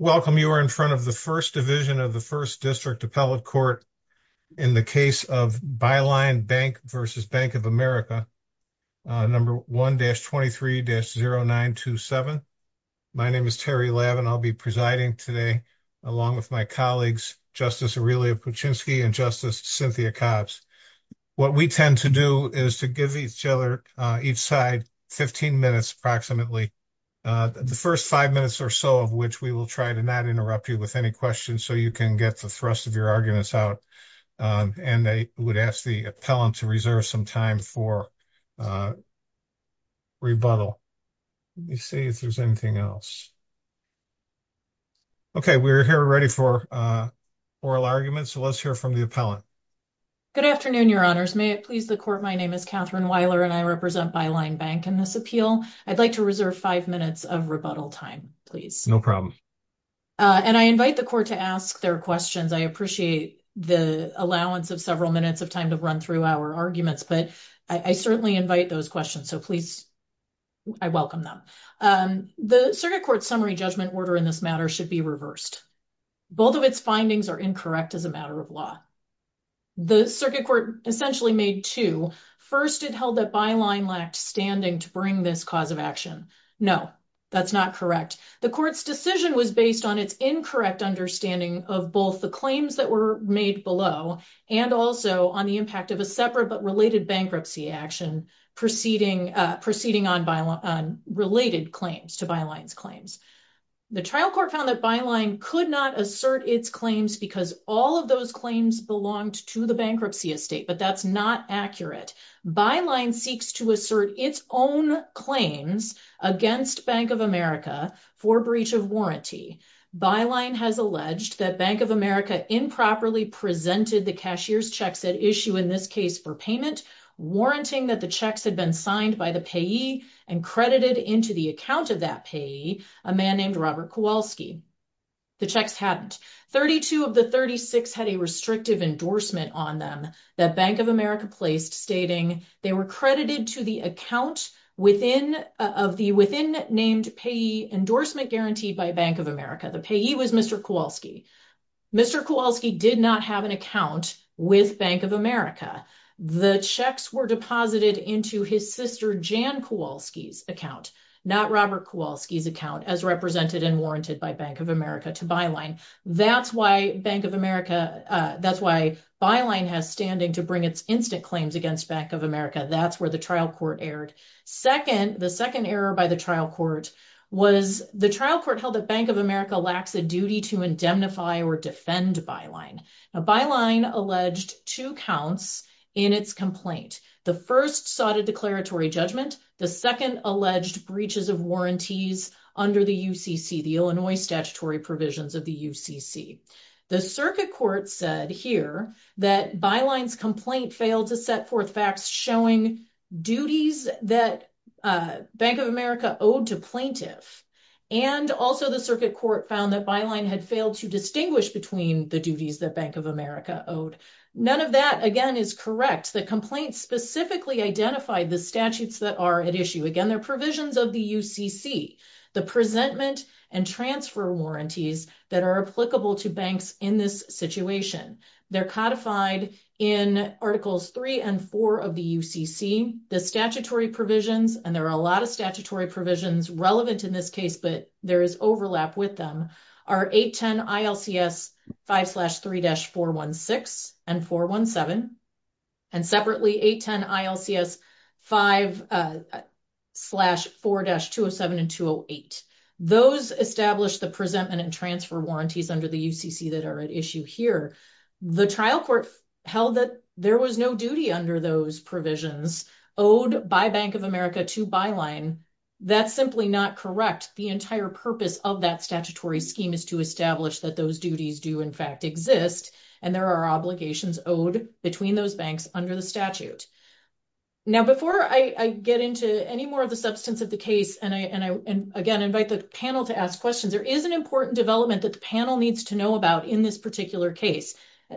Welcome, you are in front of the First Division of the First District Appellate Court in the case of Byline Bank v. Bank of America, number 1-23-0927. My name is Terry Lab, and I'll be presiding today along with my colleagues, Justice Aurelia Kuczynski and Justice Cynthia Cobbs. What we tend to do is to give each other, each side, 15 minutes approximately, the first five minutes or so of which we will try to not interrupt you with any questions so you can get the thrust of your arguments out, and I would ask the appellant to reserve some time for rebuttal. Let me see if there's anything else. Okay, we're here ready for oral arguments, so let's hear from the appellant. Good afternoon, Your Honors. May it please the Court, my name is Catherine Wyler, and I represent Byline Bank in this appeal. I'd like to reserve five minutes of rebuttal time, please. No problem. And I invite the Court to ask their questions. I appreciate the allowance of several minutes of time to run through our arguments, but I certainly invite those questions, so please, I welcome them. The Circuit Court's summary judgment order in this matter should be reversed. Both of its findings are incorrect as a matter of law. The Circuit Court essentially made two. First, it held that Byline lacked standing to bring this cause of action. No, that's not correct. The Court's decision was based on its incorrect understanding of both the claims that were made below and also on the impact of a separate but related bankruptcy action proceeding on related claims to Byline's claims. The trial court found that Byline could not assert its claims because all of those claims belonged to the bankruptcy estate, but that's not accurate. Byline seeks to assert its own claims against Bank of America for breach of warranty. Byline has alleged that Bank of America improperly presented the cashier's checks at issue, in this case, for payment, warranting that the checks had been signed by the payee and credited into the account of that payee a man named Robert Kowalski. The checks hadn't. 32 of the 36 had a restrictive endorsement on them that Bank of America placed stating they were credited to the account of the within-named payee endorsement guaranteed by Bank of America. The payee was Mr. Kowalski. Mr. Kowalski did not have an account with Bank of America. The checks were deposited into his sister Jan Kowalski's account, not Robert Kowalski's as represented and warranted by Bank of America to Byline. That's why Byline has standing to bring its instant claims against Bank of America. That's where the trial court erred. The second error by the trial court was the trial court held that Bank of America lacks a duty to indemnify or defend Byline. Byline alleged two counts in its complaint. The first sought a declaratory judgment. The second alleged breaches of warranties under the UCC, the Illinois statutory provisions of the UCC. The circuit court said here that Byline's complaint failed to set forth facts showing duties that Bank of America owed to plaintiff. And also the circuit court found that Byline had failed to distinguish between the duties that Bank of America owed. None of that, again, is correct. The complaint specifically identified the statutes that are at issue. Again, they're provisions of the UCC, the presentment and transfer warranties that are applicable to banks in this situation. They're codified in Articles 3 and 4 of the UCC. The statutory provisions, and there are a lot of statutory provisions relevant in this case, but there is overlap with them, are 810 ILCS 5-3-416 and 417. And separately, 810 ILCS 5-4-207 and 208. Those establish the presentment and transfer warranties under the UCC that are at issue here. The trial court held that there was no duty under those provisions owed by Bank of America to Byline. That's simply not correct. The entire purpose of that statutory scheme is to establish that those duties do in fact exist and there are obligations owed between those banks under the statute. Now before I get into any more of the substance of the case, and I, again, invite the panel to ask questions, there is an important development that the panel needs to know about in this particular case,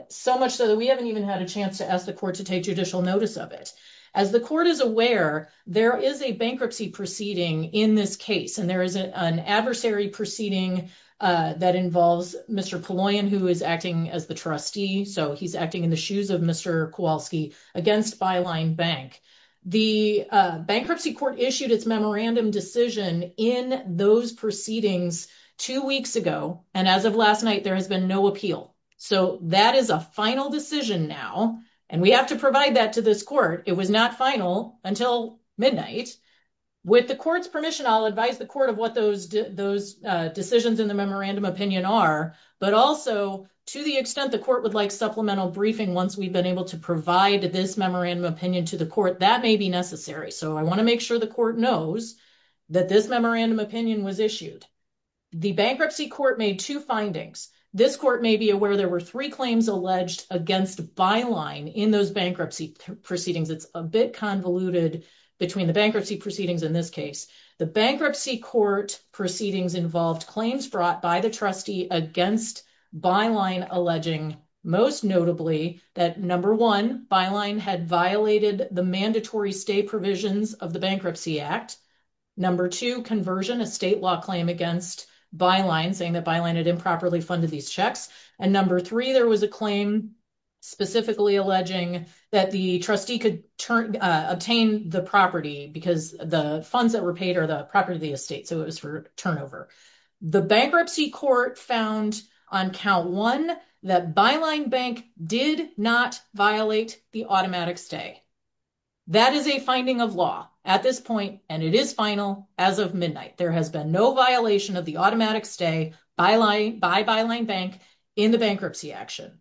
so much so that we haven't even had a chance to ask the court to take judicial notice of it. As the court is aware, there is a bankruptcy proceeding in this case, and there is an adversary proceeding that involves Mr. Kulloyan, who is acting as the trustee, so he's acting in the shoes of Mr. Kowalski, against Byline Bank. The bankruptcy court issued its memorandum decision in those proceedings two weeks ago, and as of last night, there has been no appeal. So that is a final decision now, and we have to provide that to this court. It was not final until midnight. With the court's permission, I'll advise the court of what those decisions in the memorandum opinion are, but also, to the extent the court would like supplemental briefing once we've been able to provide this memorandum opinion to the court, that may be necessary. So I want to make sure the court knows that this memorandum opinion was issued. The bankruptcy court made two findings. This court may be aware there were three claims alleged against Byline in those bankruptcy proceedings. It's a bit convoluted between the bankruptcy proceedings in this case. The bankruptcy court proceedings involved claims brought by the trustee against Byline alleging, most notably, that number one, Byline had violated the mandatory stay provisions of the Bankruptcy Act. Number two, conversion, a state law claim against Byline, saying that Byline had improperly funded these checks. And number three, there was a claim specifically alleging that the trustee could obtain the property because the funds that were paid are the property of the estate, so it was for turnover. The bankruptcy court found on count one that Byline Bank did not violate the automatic stay. That is a finding of law at this point, and it is final as of midnight. There has been no violation of the automatic stay by Byline Bank in the bankruptcy action.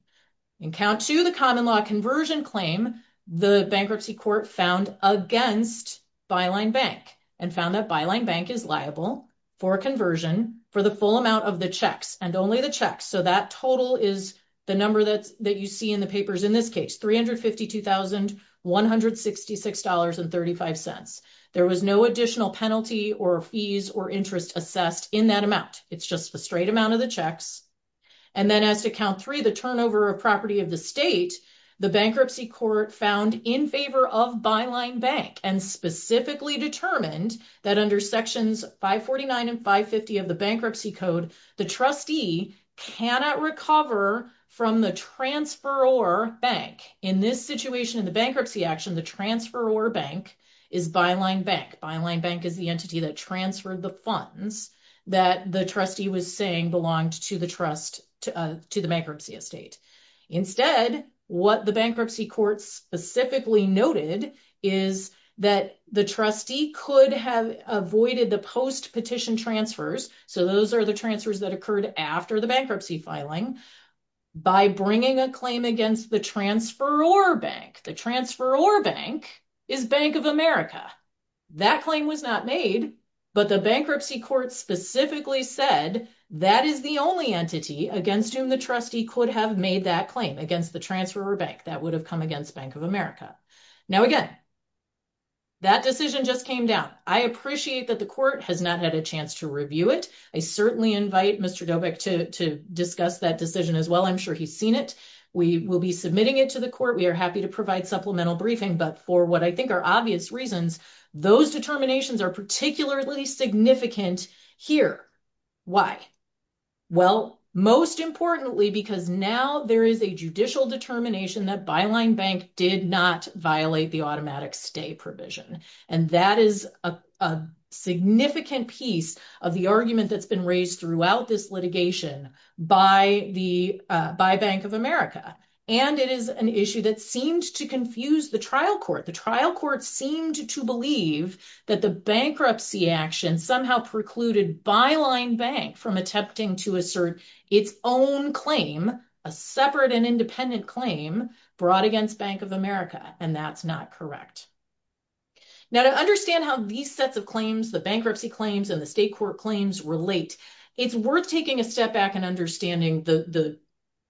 In count two, the common law conversion claim, the bankruptcy court found against Byline Bank and found that Byline Bank is liable for conversion for the full amount of the checks and only the checks. So that total is the number that you see in the papers in this case, $352,166.35. There was no additional penalty or fees or interest assessed in that amount. It's just the straight amount of the checks. And then as to count three, the turnover of property of the state, the bankruptcy court found in favor of Byline Bank and specifically determined that under Sections 549 and 550 of the Bankruptcy Code, the trustee cannot recover from the transferor bank. In this situation, in the bankruptcy action, the transferor bank is Byline Bank. Byline Bank is the entity that transferred the funds that the trustee was saying belonged to the bankruptcy estate. Instead, what the bankruptcy court specifically noted is that the trustee could have avoided the post-petition transfers. So those are the transfers that occurred after the bankruptcy filing. By bringing a claim against the transferor bank, the transferor bank is Bank of America. That claim was not made, but the bankruptcy court specifically said that is the only entity against whom the trustee could have made that claim, against the transferor bank. That would have come against Bank of America. Now again, that decision just came down. I appreciate that the court has not had a chance to review it. I certainly invite Mr. Dobik to discuss that decision as well. I'm sure he's seen it. We will be submitting it to the court. We are happy to provide supplemental briefing. But for what I think are obvious reasons, those determinations are particularly significant here. Why? Well, most importantly, because now there is a judicial determination that Byline Bank did not violate the automatic stay provision. And that is a significant piece of the argument that's been raised throughout this litigation by Bank of America. And it is an issue that seemed to confuse the trial court. The trial court seemed to believe that the bankruptcy action somehow precluded Byline Bank from attempting to assert its own claim, a separate and independent claim, brought against Bank of America. And that's not correct. Now, to understand how these sets of claims, the bankruptcy claims and the state court claims relate, it's worth taking a step back and understanding the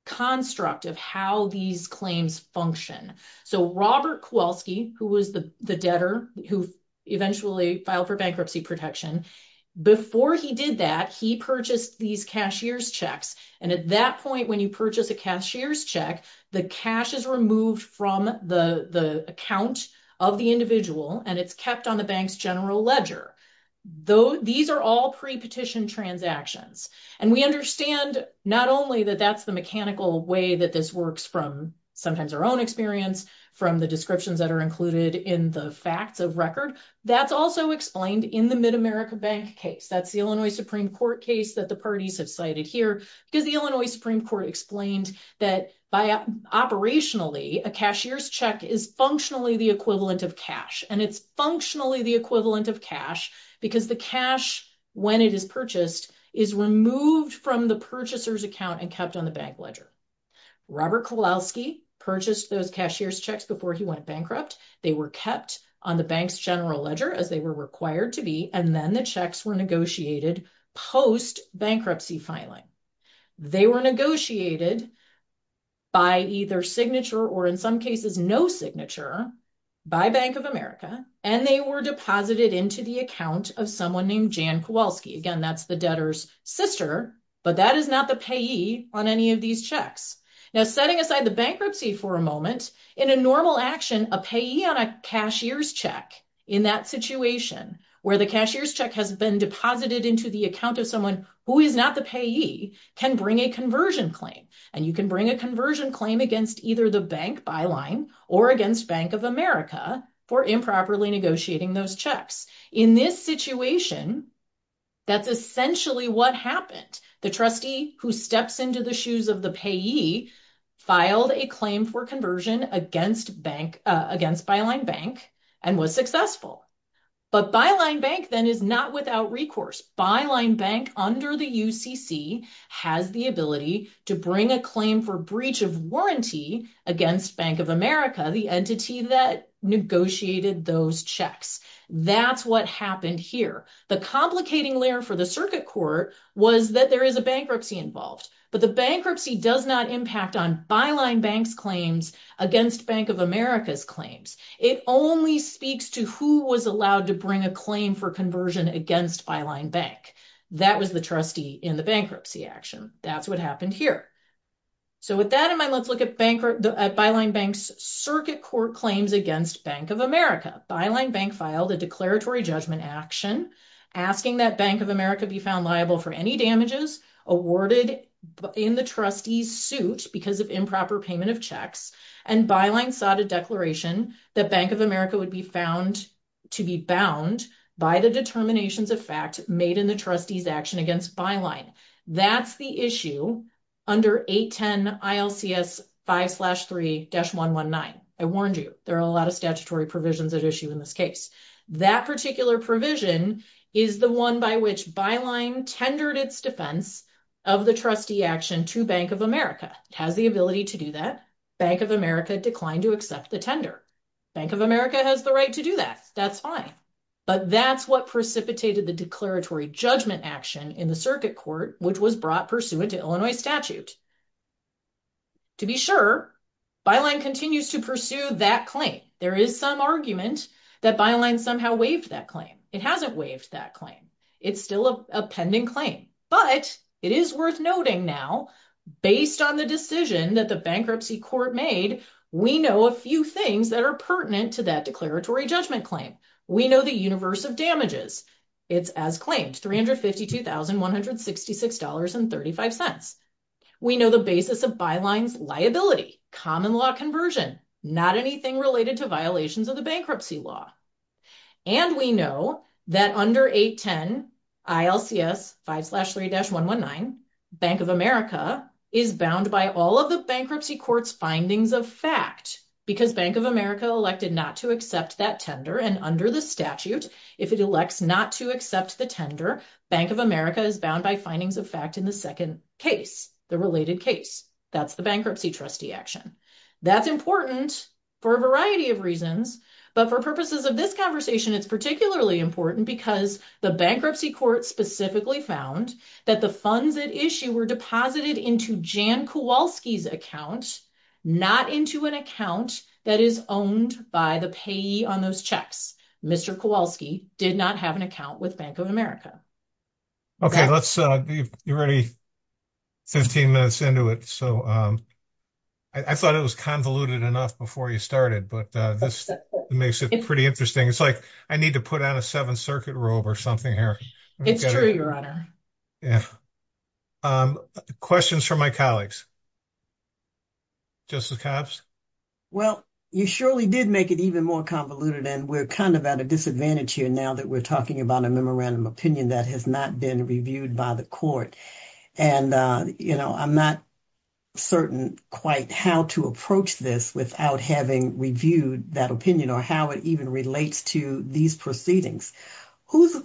construct of how these claims function. So Robert Kowalski, who was the debtor who eventually filed for bankruptcy protection, before he did that, he purchased these cashier's checks. And at that point, when you purchase a cashier's check, the cash is removed from the account of the individual and it's kept on the bank's general ledger. These are all pre-petition transactions. And we understand not only that that's the mechanical way that this works from sometimes our own experience, from the descriptions that are included in the facts of record, that's also explained in the Mid-America Bank case. That's the Illinois Supreme Court case that the parties have cited here, because the Illinois Supreme Court explained that, operationally, a cashier's check is functionally the equivalent of cash. And it's functionally the equivalent of cash because the cash, when it is purchased, is removed from the purchaser's account and kept on the bank ledger. Robert Kowalski purchased those cashier's checks before he went bankrupt. They were kept on the bank's general ledger, as they were required to be, and then the checks were negotiated post-bankruptcy filing. They were negotiated by either signature or, in some cases, no signature by Bank of America, and they were deposited into the account of someone named Jan Kowalski. Again, that's the debtor's sister, but that is not the payee on any of these checks. Now, setting aside the bankruptcy for a moment, in a normal action, a payee on a cashier's check, in that situation, where the cashier's check has been deposited into the account of someone who is not the payee, can bring a conversion claim. And you can bring a conversion claim against either the bank byline or against Bank of America for improperly negotiating those checks. In this situation, that's essentially what happened. The trustee who steps into the shoes of the payee filed a claim for conversion against Byline Bank and was successful. But Byline Bank, then, is not without recourse. Byline Bank, under the UCC, has the ability to bring a claim for breach of warranty against Bank of America, the entity that negotiated those checks. That's what happened here. The complicating layer for the circuit court was that there is a bankruptcy involved. But the bankruptcy does not impact on Byline Bank's claims against Bank of America's claims. It only speaks to who was allowed to bring a claim for conversion against Byline Bank. That was the trustee in the bankruptcy action. That's what happened here. So, with that in mind, let's look at Byline Bank's circuit court claims against Bank of America. Byline Bank filed a declaratory judgment action asking that Bank of America be found liable for any damages awarded in the trustee's suit because of improper payment of checks. And Byline sought a declaration that Bank of America would be found to be bound by the determinations of fact made in the trustee's action against Byline. That's the issue under 810 ILCS 5-3-119. I warned you, there are a lot of statutory provisions at issue in this case. That particular provision is the one by which Byline tendered its defense of the trustee action to Bank of America. It has the ability to do that. Bank of America declined to accept the tender. Bank of America has the right to do that. That's fine. But that's what precipitated the declaratory judgment action in the circuit court, which was brought pursuant to Illinois statute. To be sure, Byline continues to pursue that claim. There is some argument that Byline somehow waived that claim. It hasn't waived that claim. It's still a pending claim. But it is worth noting now, based on the decision that the bankruptcy court made, we know a few things that are pertinent to that declaratory judgment claim. We know the universe of damages. It's as claimed, $352,166.35. We know the basis of Byline's liability, common law conversion, not anything related to violations of the bankruptcy law. And we know that under 810 ILCS 5-3-119, Bank of America is bound by all of the bankruptcy court's findings of fact, because Bank of America elected not to accept that tender. And under the statute, if it elects not to accept the tender, Bank of America is bound by findings of fact in the second case, the related case. That's the bankruptcy trustee action. That's important for a variety of reasons. But for purposes of this conversation, it's particularly important because the bankruptcy court specifically found that the funds at issue were deposited into Jan Kowalski's account, not into an account that is owned by the payee on those checks. Mr. Kowalski did not have an account with Bank of America. Okay, you're already 15 minutes into it. So I thought it was convoluted enough before you started, but this makes it pretty interesting. It's like, I need to put on a Seventh Circuit robe or something here. It's true, Your Honor. Yeah. Questions from my colleagues? Justice Cobbs? Well, you surely did make it even more convoluted, and we're kind of at a disadvantage here that we're talking about a memorandum opinion that has not been reviewed by the court. And I'm not certain quite how to approach this without having reviewed that opinion or how it even relates to these proceedings. Whose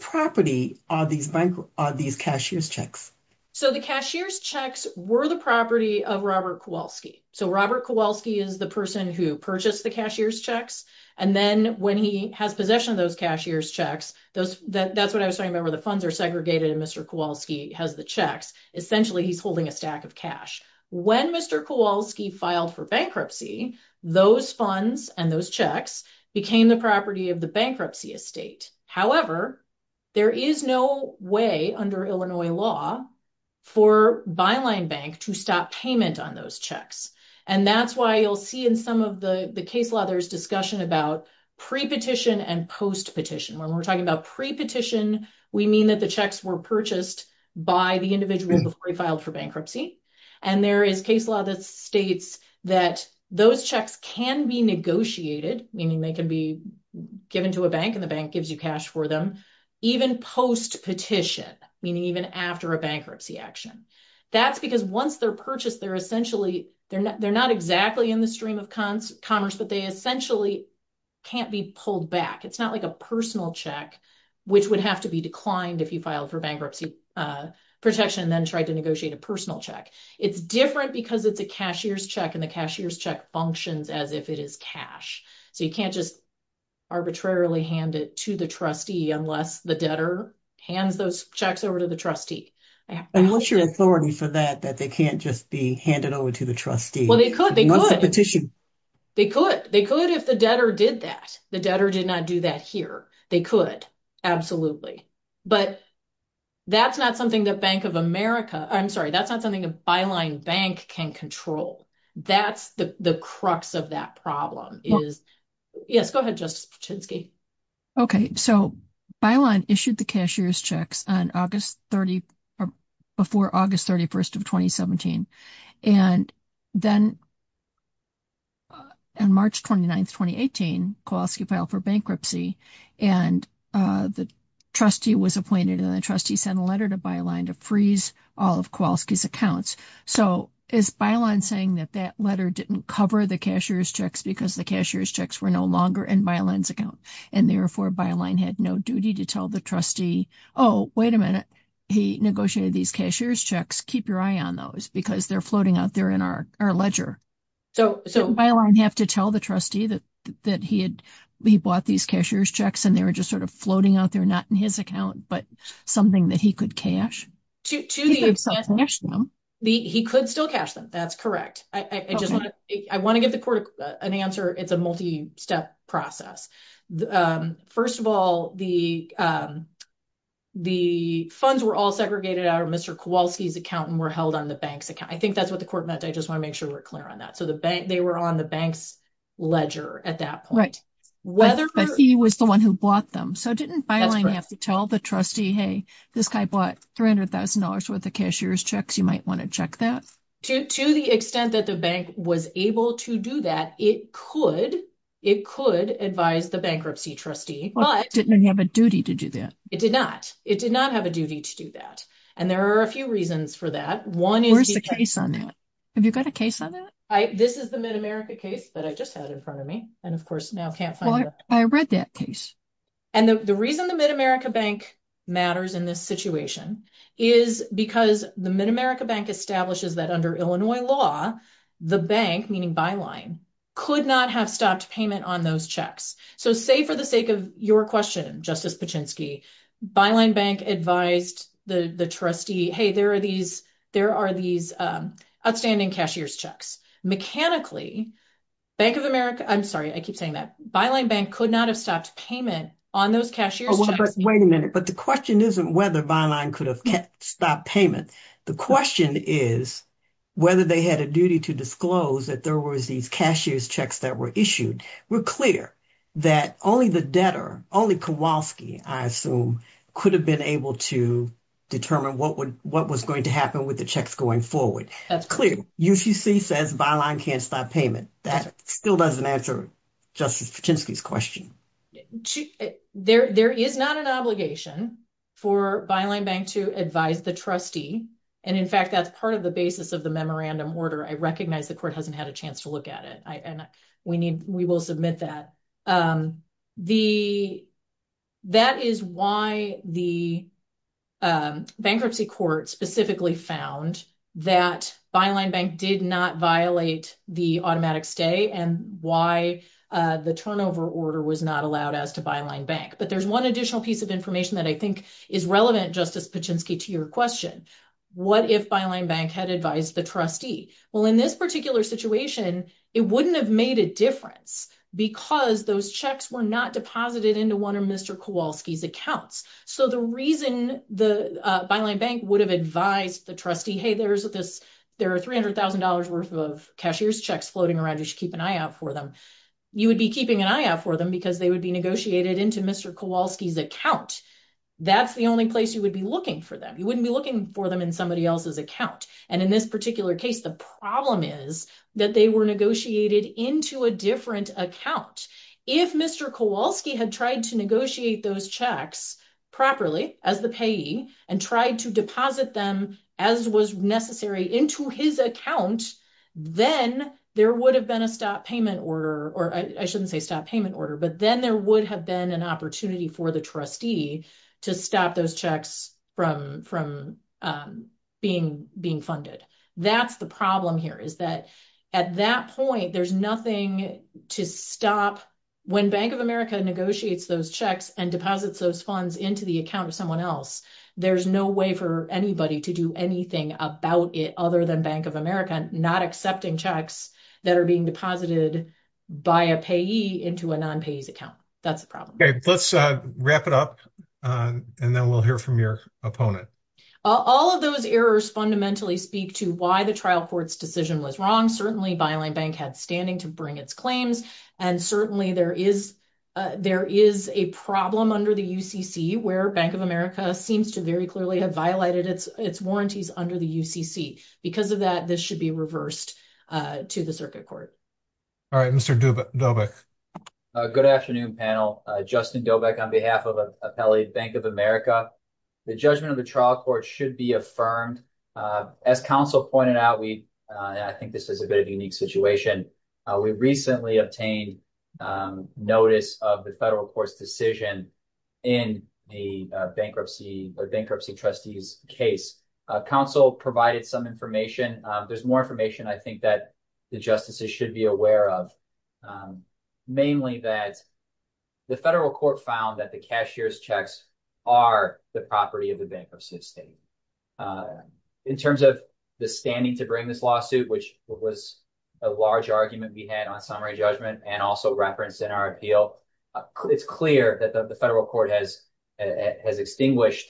property are these cashier's checks? So the cashier's checks were the property of Robert Kowalski. So Robert Kowalski is the person who purchased the cashier's checks. And then when he has possession of those cashier's checks, that's what I was talking about where the funds are segregated and Mr. Kowalski has the checks. Essentially, he's holding a stack of cash. When Mr. Kowalski filed for bankruptcy, those funds and those checks became the property of the bankruptcy estate. However, there is no way under Illinois law for Byline Bank to stop payment on those checks. And that's why you'll see in some of the case law, there's discussion about pre-petition and post-petition. When we're talking about pre-petition, we mean that the checks were purchased by the individual before he filed for bankruptcy. And there is case law that states that those checks can be negotiated, meaning they can be given to a bank and the bank gives you cash for them, even post-petition, meaning even after a bankruptcy action. That's because once they're purchased, they're not exactly in the stream of commerce, but they essentially can't be pulled back. It's not like a personal check, which would have to be declined if you filed for bankruptcy protection and then tried to negotiate a personal check. It's different because it's a cashier's check and the cashier's check functions as if it is cash. So you can't just arbitrarily hand it to the trustee unless the debtor hands those checks over to the trustee. And what's your authority for that, that they can't just be handed over to the trustee? Well, they could. They could if the debtor did that. The debtor did not do that here. They could. But that's not something that Bank of America, I'm sorry, that's not something that Byline Bank can control. That's the crux of that problem is... Yes, go ahead, Justice Pachinski. Okay. So Byline issued the cashier's checks before August 31st of 2017. And then on March 29th, 2018, Kowalski filed for bankruptcy and the trustee was appointed and the trustee sent a letter to Byline to freeze all of Kowalski's accounts. So is Byline saying that that letter didn't cover the cashier's checks because the cashier's checks were no longer in Byline's account and therefore Byline had no duty to tell the trustee, oh, wait a minute, he negotiated these cashier's checks. Keep your eye on those because they're floating out there in our ledger. So Byline have to tell the trustee that he bought these cashier's checks and they were just sort of floating out there, not in his account, but something that he could cash? He could still cash them. That's correct. I want to give the court an answer. It's a multi-step process. The first of all, the funds were all segregated out of Mr. Kowalski's account and were held on the bank's account. I think that's what the court meant. I just want to make sure we're clear on that. So the bank, they were on the bank's ledger at that point. Right, but he was the one who bought them. So didn't Byline have to tell the trustee, hey, this guy bought $300,000 worth of cashier's checks. You might want to check that. To the extent that the bank was able to do that, it could advise the bankruptcy trustee. Well, it didn't have a duty to do that. It did not. It did not have a duty to do that. And there are a few reasons for that. Where's the case on that? Have you got a case on that? This is the Mid-America case that I just had in front of me. And of course now can't find it. I read that case. And the reason the Mid-America Bank matters in this situation is because the Mid-America Bank establishes that under Illinois law, the bank, meaning Byline, could not have stopped payment on those checks. So say for the sake of your question, Justice Paczynski, Byline Bank advised the trustee, hey, there are these outstanding cashier's checks. Mechanically, Bank of America, I'm sorry, I keep saying that. Byline Bank could not have stopped payment on those cashier's checks. Oh, but wait a minute. But the question isn't whether Byline could have stopped payment. The question is whether they had a duty to disclose that there was these cashier's checks that were issued. We're clear that only the debtor, only Kowalski, I assume, could have been able to determine what was going to happen with the checks going forward. That's clear. UCC says Byline can't stop payment. That still doesn't answer Justice Paczynski's question. There is not an obligation for Byline Bank to advise the trustee. And in fact, that's part of the basis of the memorandum order. I recognize the court hasn't had a chance to look at it. We will submit that. That is why the bankruptcy court specifically found that Byline Bank did not violate the automatic stay and why the turnover order was not allowed as to Byline Bank. But there's one additional piece of information that I think is relevant, Justice Paczynski, to your question. What if Byline Bank had advised the trustee? In this particular situation, it wouldn't have made a difference because those checks were not deposited into one of Mr. Kowalski's accounts. So the reason the Byline Bank would have advised the trustee, hey, there are $300,000 worth of cashier's checks floating around. You should keep an eye out for them. You would be keeping an eye out for them because they would be negotiated into Mr. Kowalski's account. That's the only place you would be looking for them. You wouldn't be looking for them in somebody else's account. And in this particular case, the problem is that they were negotiated into a different account. If Mr. Kowalski had tried to negotiate those checks properly as the payee and tried to deposit them as was necessary into his account, then there would have been a stop payment order, or I shouldn't say stop payment order, but then there would have been an opportunity for the trustee to stop those checks from being funded. That's the problem here, is that at that point, there's nothing to stop when Bank of America negotiates those checks and deposits those funds into the account of someone else. There's no way for anybody to do anything about it other than Bank of America not accepting checks that are being deposited by a payee into a non-payee's account. That's the problem. Okay, let's wrap it up and then we'll hear from your opponent. All of those errors, fundamentally, speak to why the trial court's decision was wrong. Certainly, Byline Bank had standing to bring its claims, and certainly there is a problem under the UCC where Bank of America seems to very clearly have violated its warranties under the UCC. Because of that, this should be reversed to the circuit court. All right, Mr. Dobek. Good afternoon, panel. Justin Dobek on behalf of Appellate Bank of America. The judgment of the trial court should be affirmed. As counsel pointed out, we, and I think this is a bit of a unique situation, we recently obtained notice of the federal court's decision in the bankruptcy trustee's case. Counsel provided some information. There's more information, I think, that the justices should be aware of. Mainly that the federal court found that the cashier's checks are the property of the bankruptcy estate. In terms of the standing to bring this lawsuit, which was a large argument we had on summary judgment and also referenced in our appeal, it's clear that the federal court has extinguished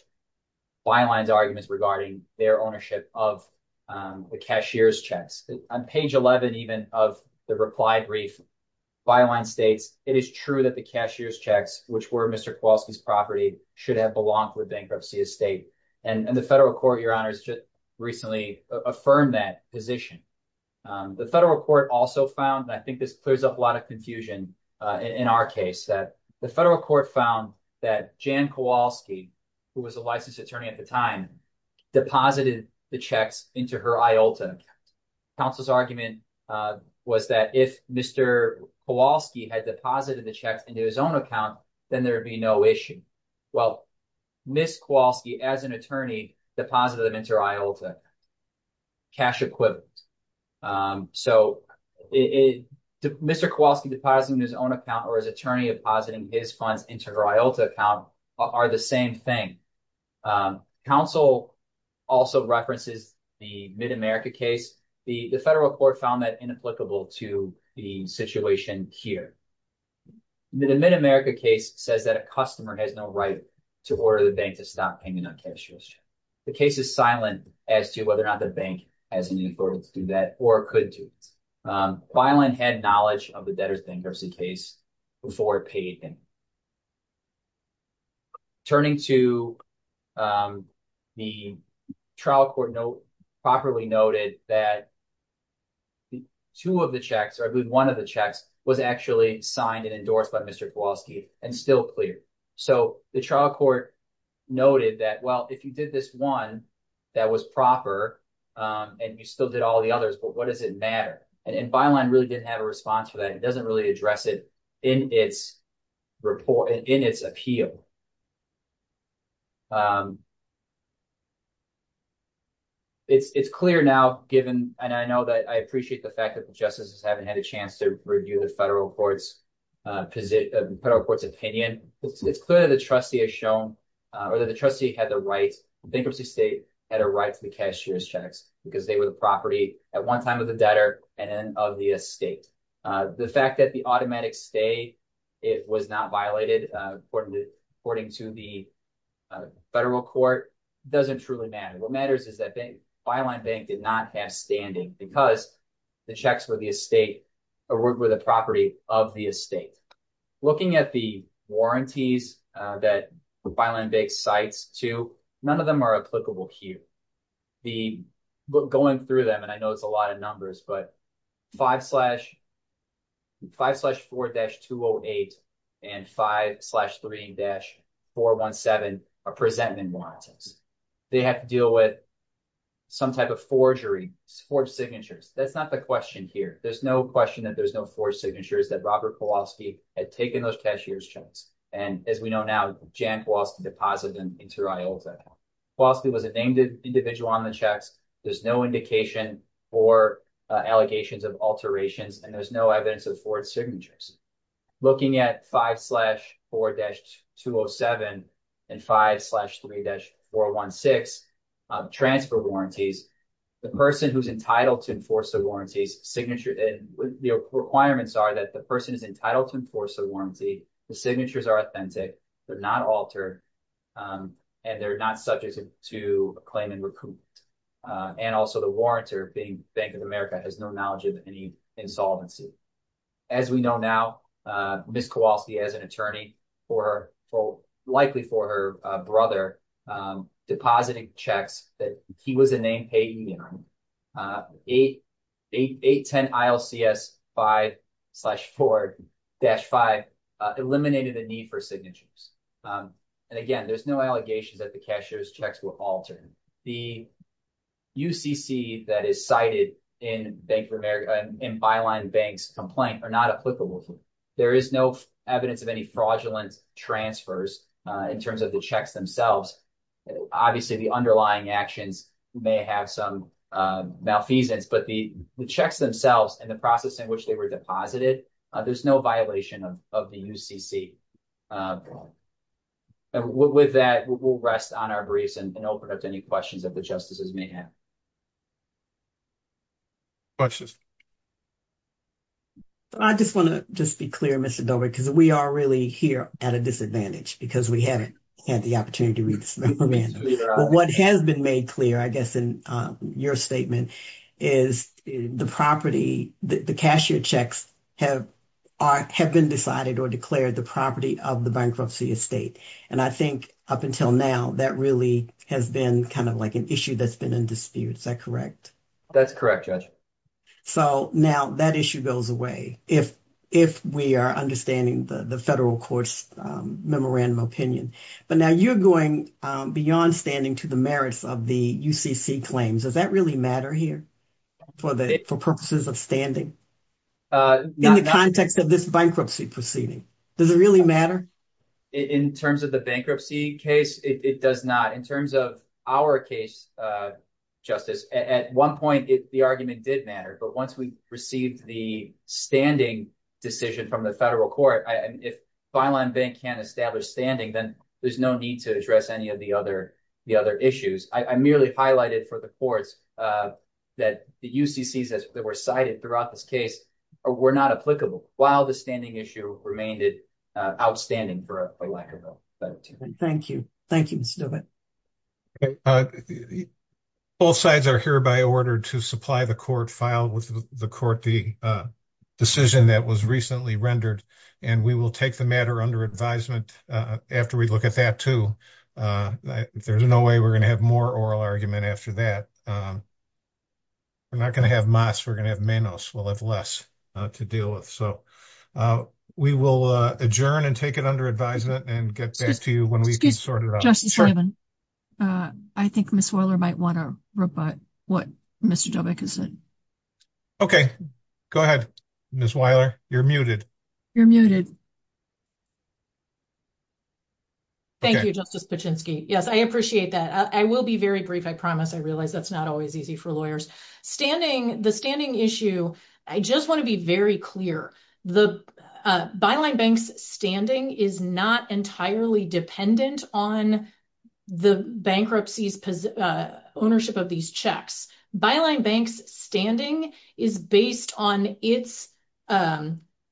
Byline's arguments regarding their ownership of the cashier's checks. On page 11 even of the reply brief, Byline states, it is true that the cashier's checks, which were Mr. Kowalski's property, should have belonged to the bankruptcy estate. And the federal court, Your Honors, just recently affirmed that position. The federal court also found, and I think this clears up a lot of confusion in our case, that the federal court found that Jan Kowalski, who was a licensed attorney at the time, deposited the checks into her IOLTA account. Counsel's argument was that if Mr. Kowalski had deposited the checks into his own account, then there'd be no issue. Well, Ms. Kowalski, as an attorney, deposited them into her IOLTA cash equivalent. So Mr. Kowalski depositing his own account or his attorney depositing his funds into her IOLTA account are the same thing. Counsel also references the Mid-America case. The federal court found that inapplicable to the situation here. The Mid-America case says that a customer has no right to order the bank to stop paying a non-cashier's check. The case is silent as to whether or not the bank has any authority to do that or could do it. Bilan had knowledge of the debtor's bankruptcy case before it paid him. Turning to the trial court, properly noted that two of the checks, or I believe one of the checks, was actually signed and endorsed by Mr. Kowalski and still cleared. So the trial court noted that, well, if you did this one that was proper and you still did all the others, but what does it matter? And Bilan really didn't have a response for that. It doesn't really address it in its appeal. It's clear now given, and I know that I appreciate the fact that the justices haven't had a chance to review the federal court's position, the federal court's opinion, it's clear that the trustee has shown, or that the trustee had the right, the bankruptcy state had a right to the cashier's checks because they were the property at one time of the debtor and then of the estate. The fact that the automatic stay, it was not violated according to the federal court doesn't truly matter. What matters is that Bilan Bank did not have standing because the checks were the estate, or were the property of the estate. Looking at the warranties that Bilan Bank cites too, none of them are applicable here. The, going through them, and I know it's a lot of numbers, but 5-4-208 and 5-3-417 are presentment warranties. They have to deal with some type of forgery, forged signatures. That's not the question here. There's no question that there's no forged signatures that Robert Kowalski had taken those cashier's checks. And as we know now, Jan Kowalski deposited them into her I.O. Kowalski was a named individual on the checks. There's no indication or allegations of alterations, and there's no evidence of forged signatures. Looking at 5-4-207 and 5-3-416 transfer warranties, the person who's entitled to enforce the warranties and what the requirements are, that the person is entitled to enforce the warranty, the signatures are authentic, they're not altered, and they're not subject to claim and recoupment. And also the warrantor, being Bank of America, has no knowledge of any insolvency. As we know now, Ms. Kowalski, as an attorney, likely for her brother, deposited checks that he was a named payee, 8-10-ILCS-5-4-5, eliminated the need for signatures. And again, there's no allegations that the cashier's checks were altered. The UCC that is cited in Byline Bank's complaint are not applicable here. There is no evidence of any fraudulent transfers in terms of the checks themselves. Obviously, the underlying actions may have some malfeasance, but the checks themselves and the process in which they were deposited, there's no violation of the UCC. And with that, we'll rest on our briefs and open up to any questions that the justices may have. Questions? I just want to just be clear, Mr. Dobry, because we are really here at a disadvantage because we haven't had the opportunity to read this memorandum. But what has been made clear, I guess, in your statement is the property, the cashier checks, have been decided or declared the property of the bankruptcy estate. And I think up until now, that really has been kind of like an issue that's been in dispute. Is that correct? That's correct, Judge. So now that issue goes away if we are understanding the federal court's memorandum opinion. But now you're going beyond standing to the merits of the UCC claims. Does that really matter here for purposes of standing in the context of this bankruptcy proceeding? Does it really matter? In terms of the bankruptcy case, it does not. In terms of our case, Justice, at one point, the argument did matter. But once we received the standing decision from the federal court, if Fineline Bank can't establish standing, then there's no need to address any of the other issues. I merely highlighted for the courts that the UCCs that were cited throughout this case were not applicable, while the standing issue remained outstanding for a lack of a better term. Thank you. Thank you, Mr. DeWitt. Both sides are here by order to supply the court file with the court the decision that was recently rendered. And we will take the matter under advisement after we look at that too. There's no way we're going to have more oral argument after that. We're not going to have mas. We're going to have menos. We'll have less to deal with. So we will adjourn and take it under advisement and get back to you when we can sort it out. Justice Levin, I think Ms. Weiler might want to rebut what Mr. Dobek has said. Okay, go ahead, Ms. Weiler. You're muted. You're muted. Thank you, Justice Paczynski. Yes, I appreciate that. I will be very brief, I promise. I realize that's not always easy for lawyers. Standing, the standing issue, I just want to be very clear. The byline bank's standing is not entirely dependent on the bankruptcy's ownership of these checks. Byline bank's standing is based on its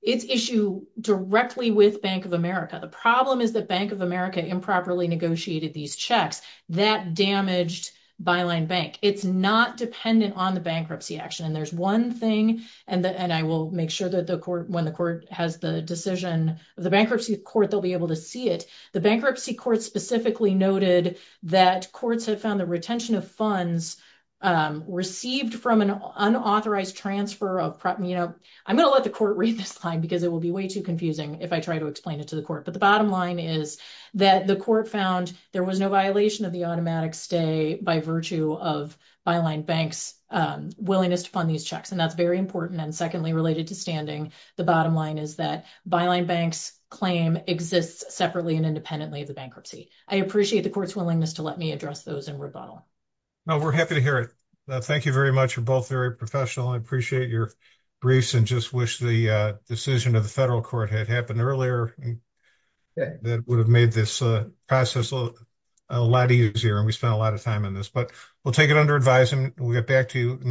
issue directly with Bank of America. The problem is that Bank of America improperly negotiated these checks that damaged byline bank. It's not dependent on the bankruptcy action. And there's one thing, and I will make sure that the court, when the court has the decision, the bankruptcy court, they'll be able to see it. The bankruptcy court specifically noted that courts have found the retention of funds received from an unauthorized transfer of property. I'm going to let the court read this line because it will be way too confusing if I try to explain it to the court. But the bottom line is that the court found there was no violation of the automatic stay by virtue of byline bank's willingness to fund these checks. And that's very important. And secondly, related to standing, the bottom line is that byline bank's claim exists separately and independently of the bankruptcy. I appreciate the court's willingness to let me address those in rebuttal. No, we're happy to hear it. Thank you very much. You're both very professional. I appreciate your briefs and just wish the decision of the federal court had happened earlier. That would have made this process a lot easier. And we spent a lot of time on this, but we'll take it under advising. We'll get back to you.